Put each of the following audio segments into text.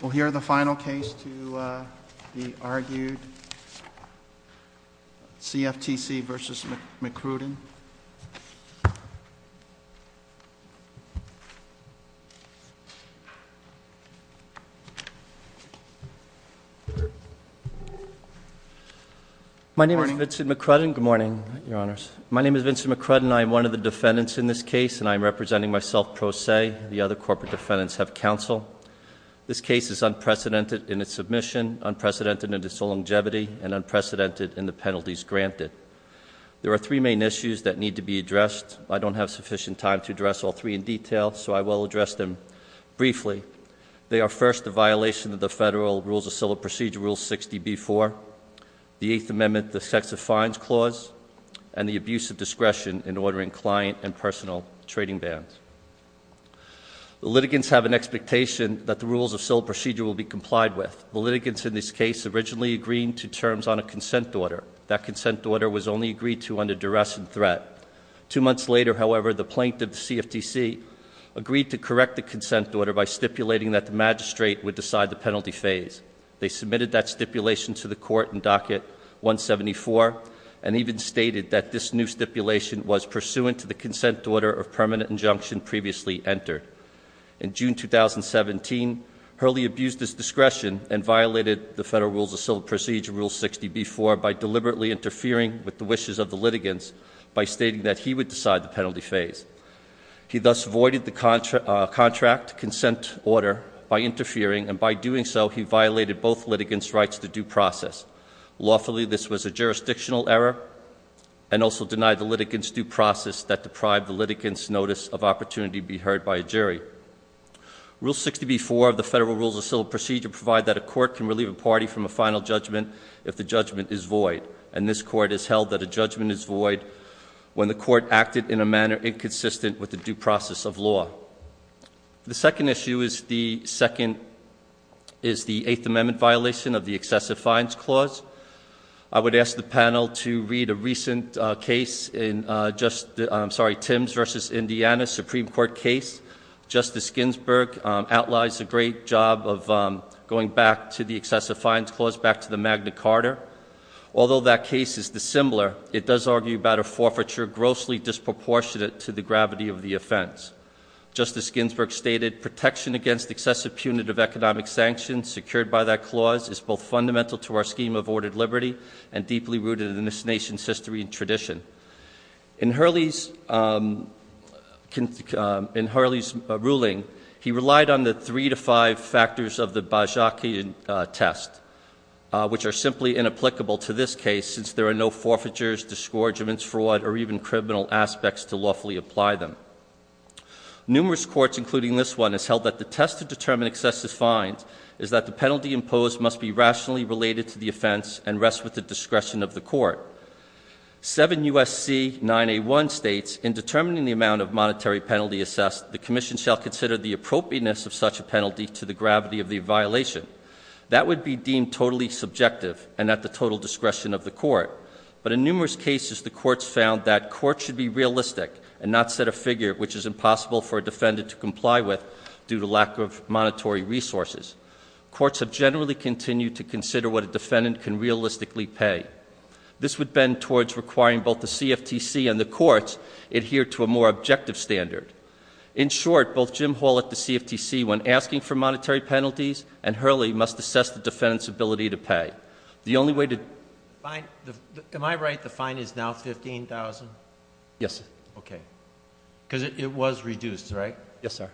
We'll hear the final case to be argued. CFTC versus McCrudden. My name is Vincent McCrudden. Good morning, Your Honors. My name is Vincent McCrudden. I'm one of the defendants in this case and I'm representing myself pro se. The other corporate defendants have counsel. This case is unprecedented in its submission, unprecedented in its longevity, and unprecedented in the penalties granted. There are three main issues that need to be addressed. I don't have sufficient time to address all three in detail, so I will address them briefly. They are first, the violation of the federal Rules of Civil Procedure Rule 60B4, the Eighth Amendment, the Sex of Fines Clause, and the abuse of The litigants have an expectation that the Rules of Civil Procedure will be complied with. The litigants in this case originally agreed to terms on a consent order. That consent order was only agreed to under duress and threat. Two months later, however, the plaintiff, the CFTC, agreed to correct the consent order by stipulating that the magistrate would decide the penalty phase. They submitted that stipulation to the court in Docket 174 and even stated that this new stipulation was pursuant to the consent order of permanent injunction previously entered. In June 2017, Hurley abused his discretion and violated the federal Rules of Civil Procedure Rule 60B4 by deliberately interfering with the wishes of the litigants by stating that he would decide the penalty phase. He thus voided the contract consent order by interfering, and by doing so, he violated both litigants' rights to due process. Lawfully, this was a jurisdictional error and also denied the litigants due process that deprived the litigants' notice of opportunity to be heard by a jury. Rule 60B4 of the federal Rules of Civil Procedure provide that a court can relieve a party from a final judgment if the judgment is void, and this court has held that a judgment is void when the court acted in a manner inconsistent with the due process of law. The second issue is the Eighth Amendment violation of the Excessive Fines Clause. I would like to begin by acknowledging that in the case of Hurley v. Indiana, Supreme Court case, Justice Ginsburg outlines a great job of going back to the Excessive Fines Clause, back to the Magna Carta. Although that case is dissimilar, it does argue about a forfeiture grossly disproportionate to the gravity of the offense. Justice Ginsburg stated, protection against excessive punitive economic sanctions secured by that clause is both fundamental to our scheme of ordered liberty and deeply rooted in this nation's history and tradition. In Hurley's ruling, he relied on the three to five factors of the Bozhakian test, which are simply inapplicable to this case since there are no forfeitures, disgorgements, fraud, or even criminal aspects to lawfully apply them. Numerous courts, including this one, has held that the test to determine excessive fines is that the penalty imposed must be Seven U.S.C. 9A1 states, in determining the amount of monetary penalty assessed, the commission shall consider the appropriateness of such a penalty to the gravity of the violation. That would be deemed totally subjective and at the total discretion of the court. But in numerous cases, the courts found that courts should be realistic and not set a figure which is impossible for a defendant to comply with due to lack of monetary resources. Courts have generally continued to consider what a defendant can realistically pay. This would bend towards requiring both the CFTC and the courts adhere to a more objective standard. In short, both Jim Hall at the CFTC when asking for monetary penalties and Hurley must assess the defendant's ability to pay. The only way to Am I right the fine is now $15,000? Yes. Okay. Because it was reduced, right? Yes, sir.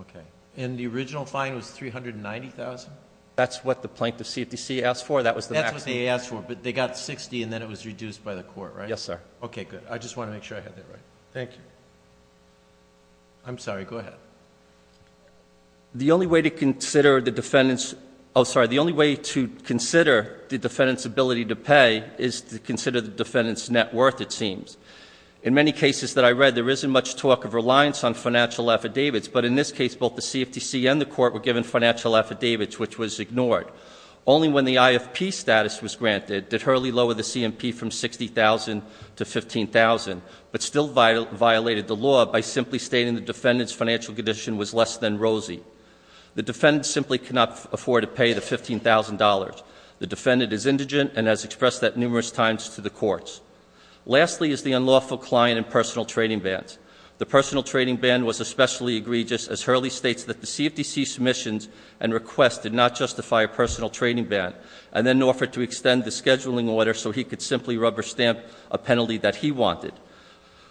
Okay. And the original fine was $390,000? That's what the plaintiff CFTC asked for. That was the maximum. But they got $60,000 and then it was reduced by the court, right? Yes, sir. Okay. Good. I just want to make sure I have that right. Thank you. I'm sorry. Go ahead. The only way to consider the defendant's ability to pay is to consider the defendant's net worth, it seems. In many cases that I read, there isn't much talk of reliance on financial affidavits. But in this case, both the CFTC and the court were given financial affidavits, which was ignored. Only when the plaintiff did, did Hurley lower the CMP from $60,000 to $15,000, but still violated the law by simply stating the defendant's financial condition was less than rosy. The defendant simply could not afford to pay the $15,000. The defendant is indigent and has expressed that numerous times to the courts. Lastly is the unlawful client and personal trading bans. The personal trading ban was especially egregious, as Hurley states that the CFTC submissions and requests did not justify a personal trading ban, and then offered to extend the scheduling order so he could simply rubber stamp a penalty that he wanted.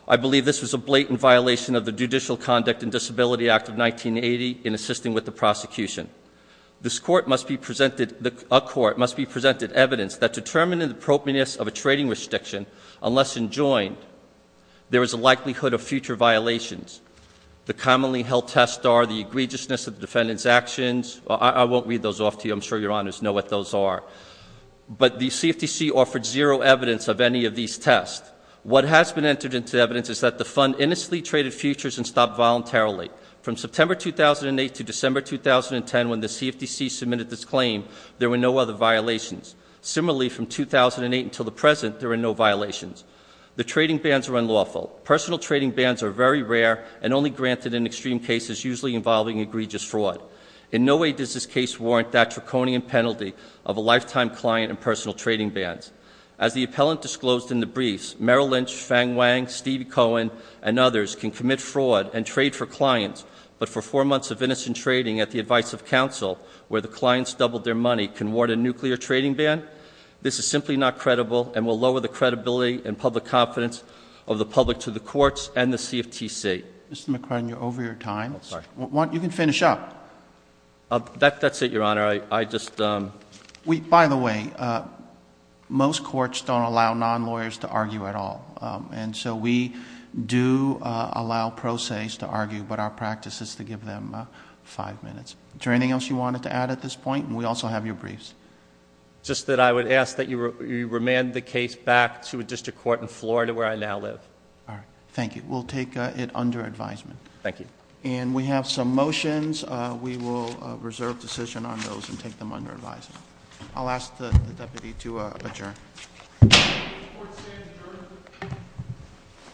I believe this was a blatant violation of the Judicial Conduct and Disability Act of 1980 in assisting with the prosecution. This court must be presented, a court must be presented evidence that determining the propeness of a trading restriction, unless enjoined, there is a likelihood of future violations. The commonly held tests are the egregiousness of the defendant's actions. I won't read those off to you. I'm sorry. But the CFTC offered zero evidence of any of these tests. What has been entered into evidence is that the fund innocently traded futures and stopped voluntarily. From September 2008 to December 2010, when the CFTC submitted this claim, there were no other violations. Similarly, from 2008 until the present, there were no violations. The trading bans were unlawful. Personal trading bans are very rare and only granted in extreme cases usually involving egregious fraud. In no way does this case warrant that draconian penalty of a lifetime client and personal trading bans. As the appellant disclosed in the briefs, Merrill Lynch, Fang Wang, Stevie Cohen, and others can commit fraud and trade for clients, but for four months of innocent trading at the advice of counsel, where the clients doubled their money, can warrant a nuclear trading ban? This is simply not credible and will lower the credibility and public confidence of the public to the courts and the CFTC. Mr. McCrudden, you're over your time. You can finish up. That's it, Your Honor. I just... By the way, most courts don't allow non-lawyers to argue at all, and so we do allow pro se's to argue, but our practice is to give them five minutes. Is there anything else you wanted to add at this point? And we also have your briefs. Just that I would ask that you remand the case back to a district court in Florida where I now live. All right. Thank you. We'll take it under advisement. Thank you. And we have some motions. We will reserve decision on those and take them under advisement. I'll ask the deputy to adjourn.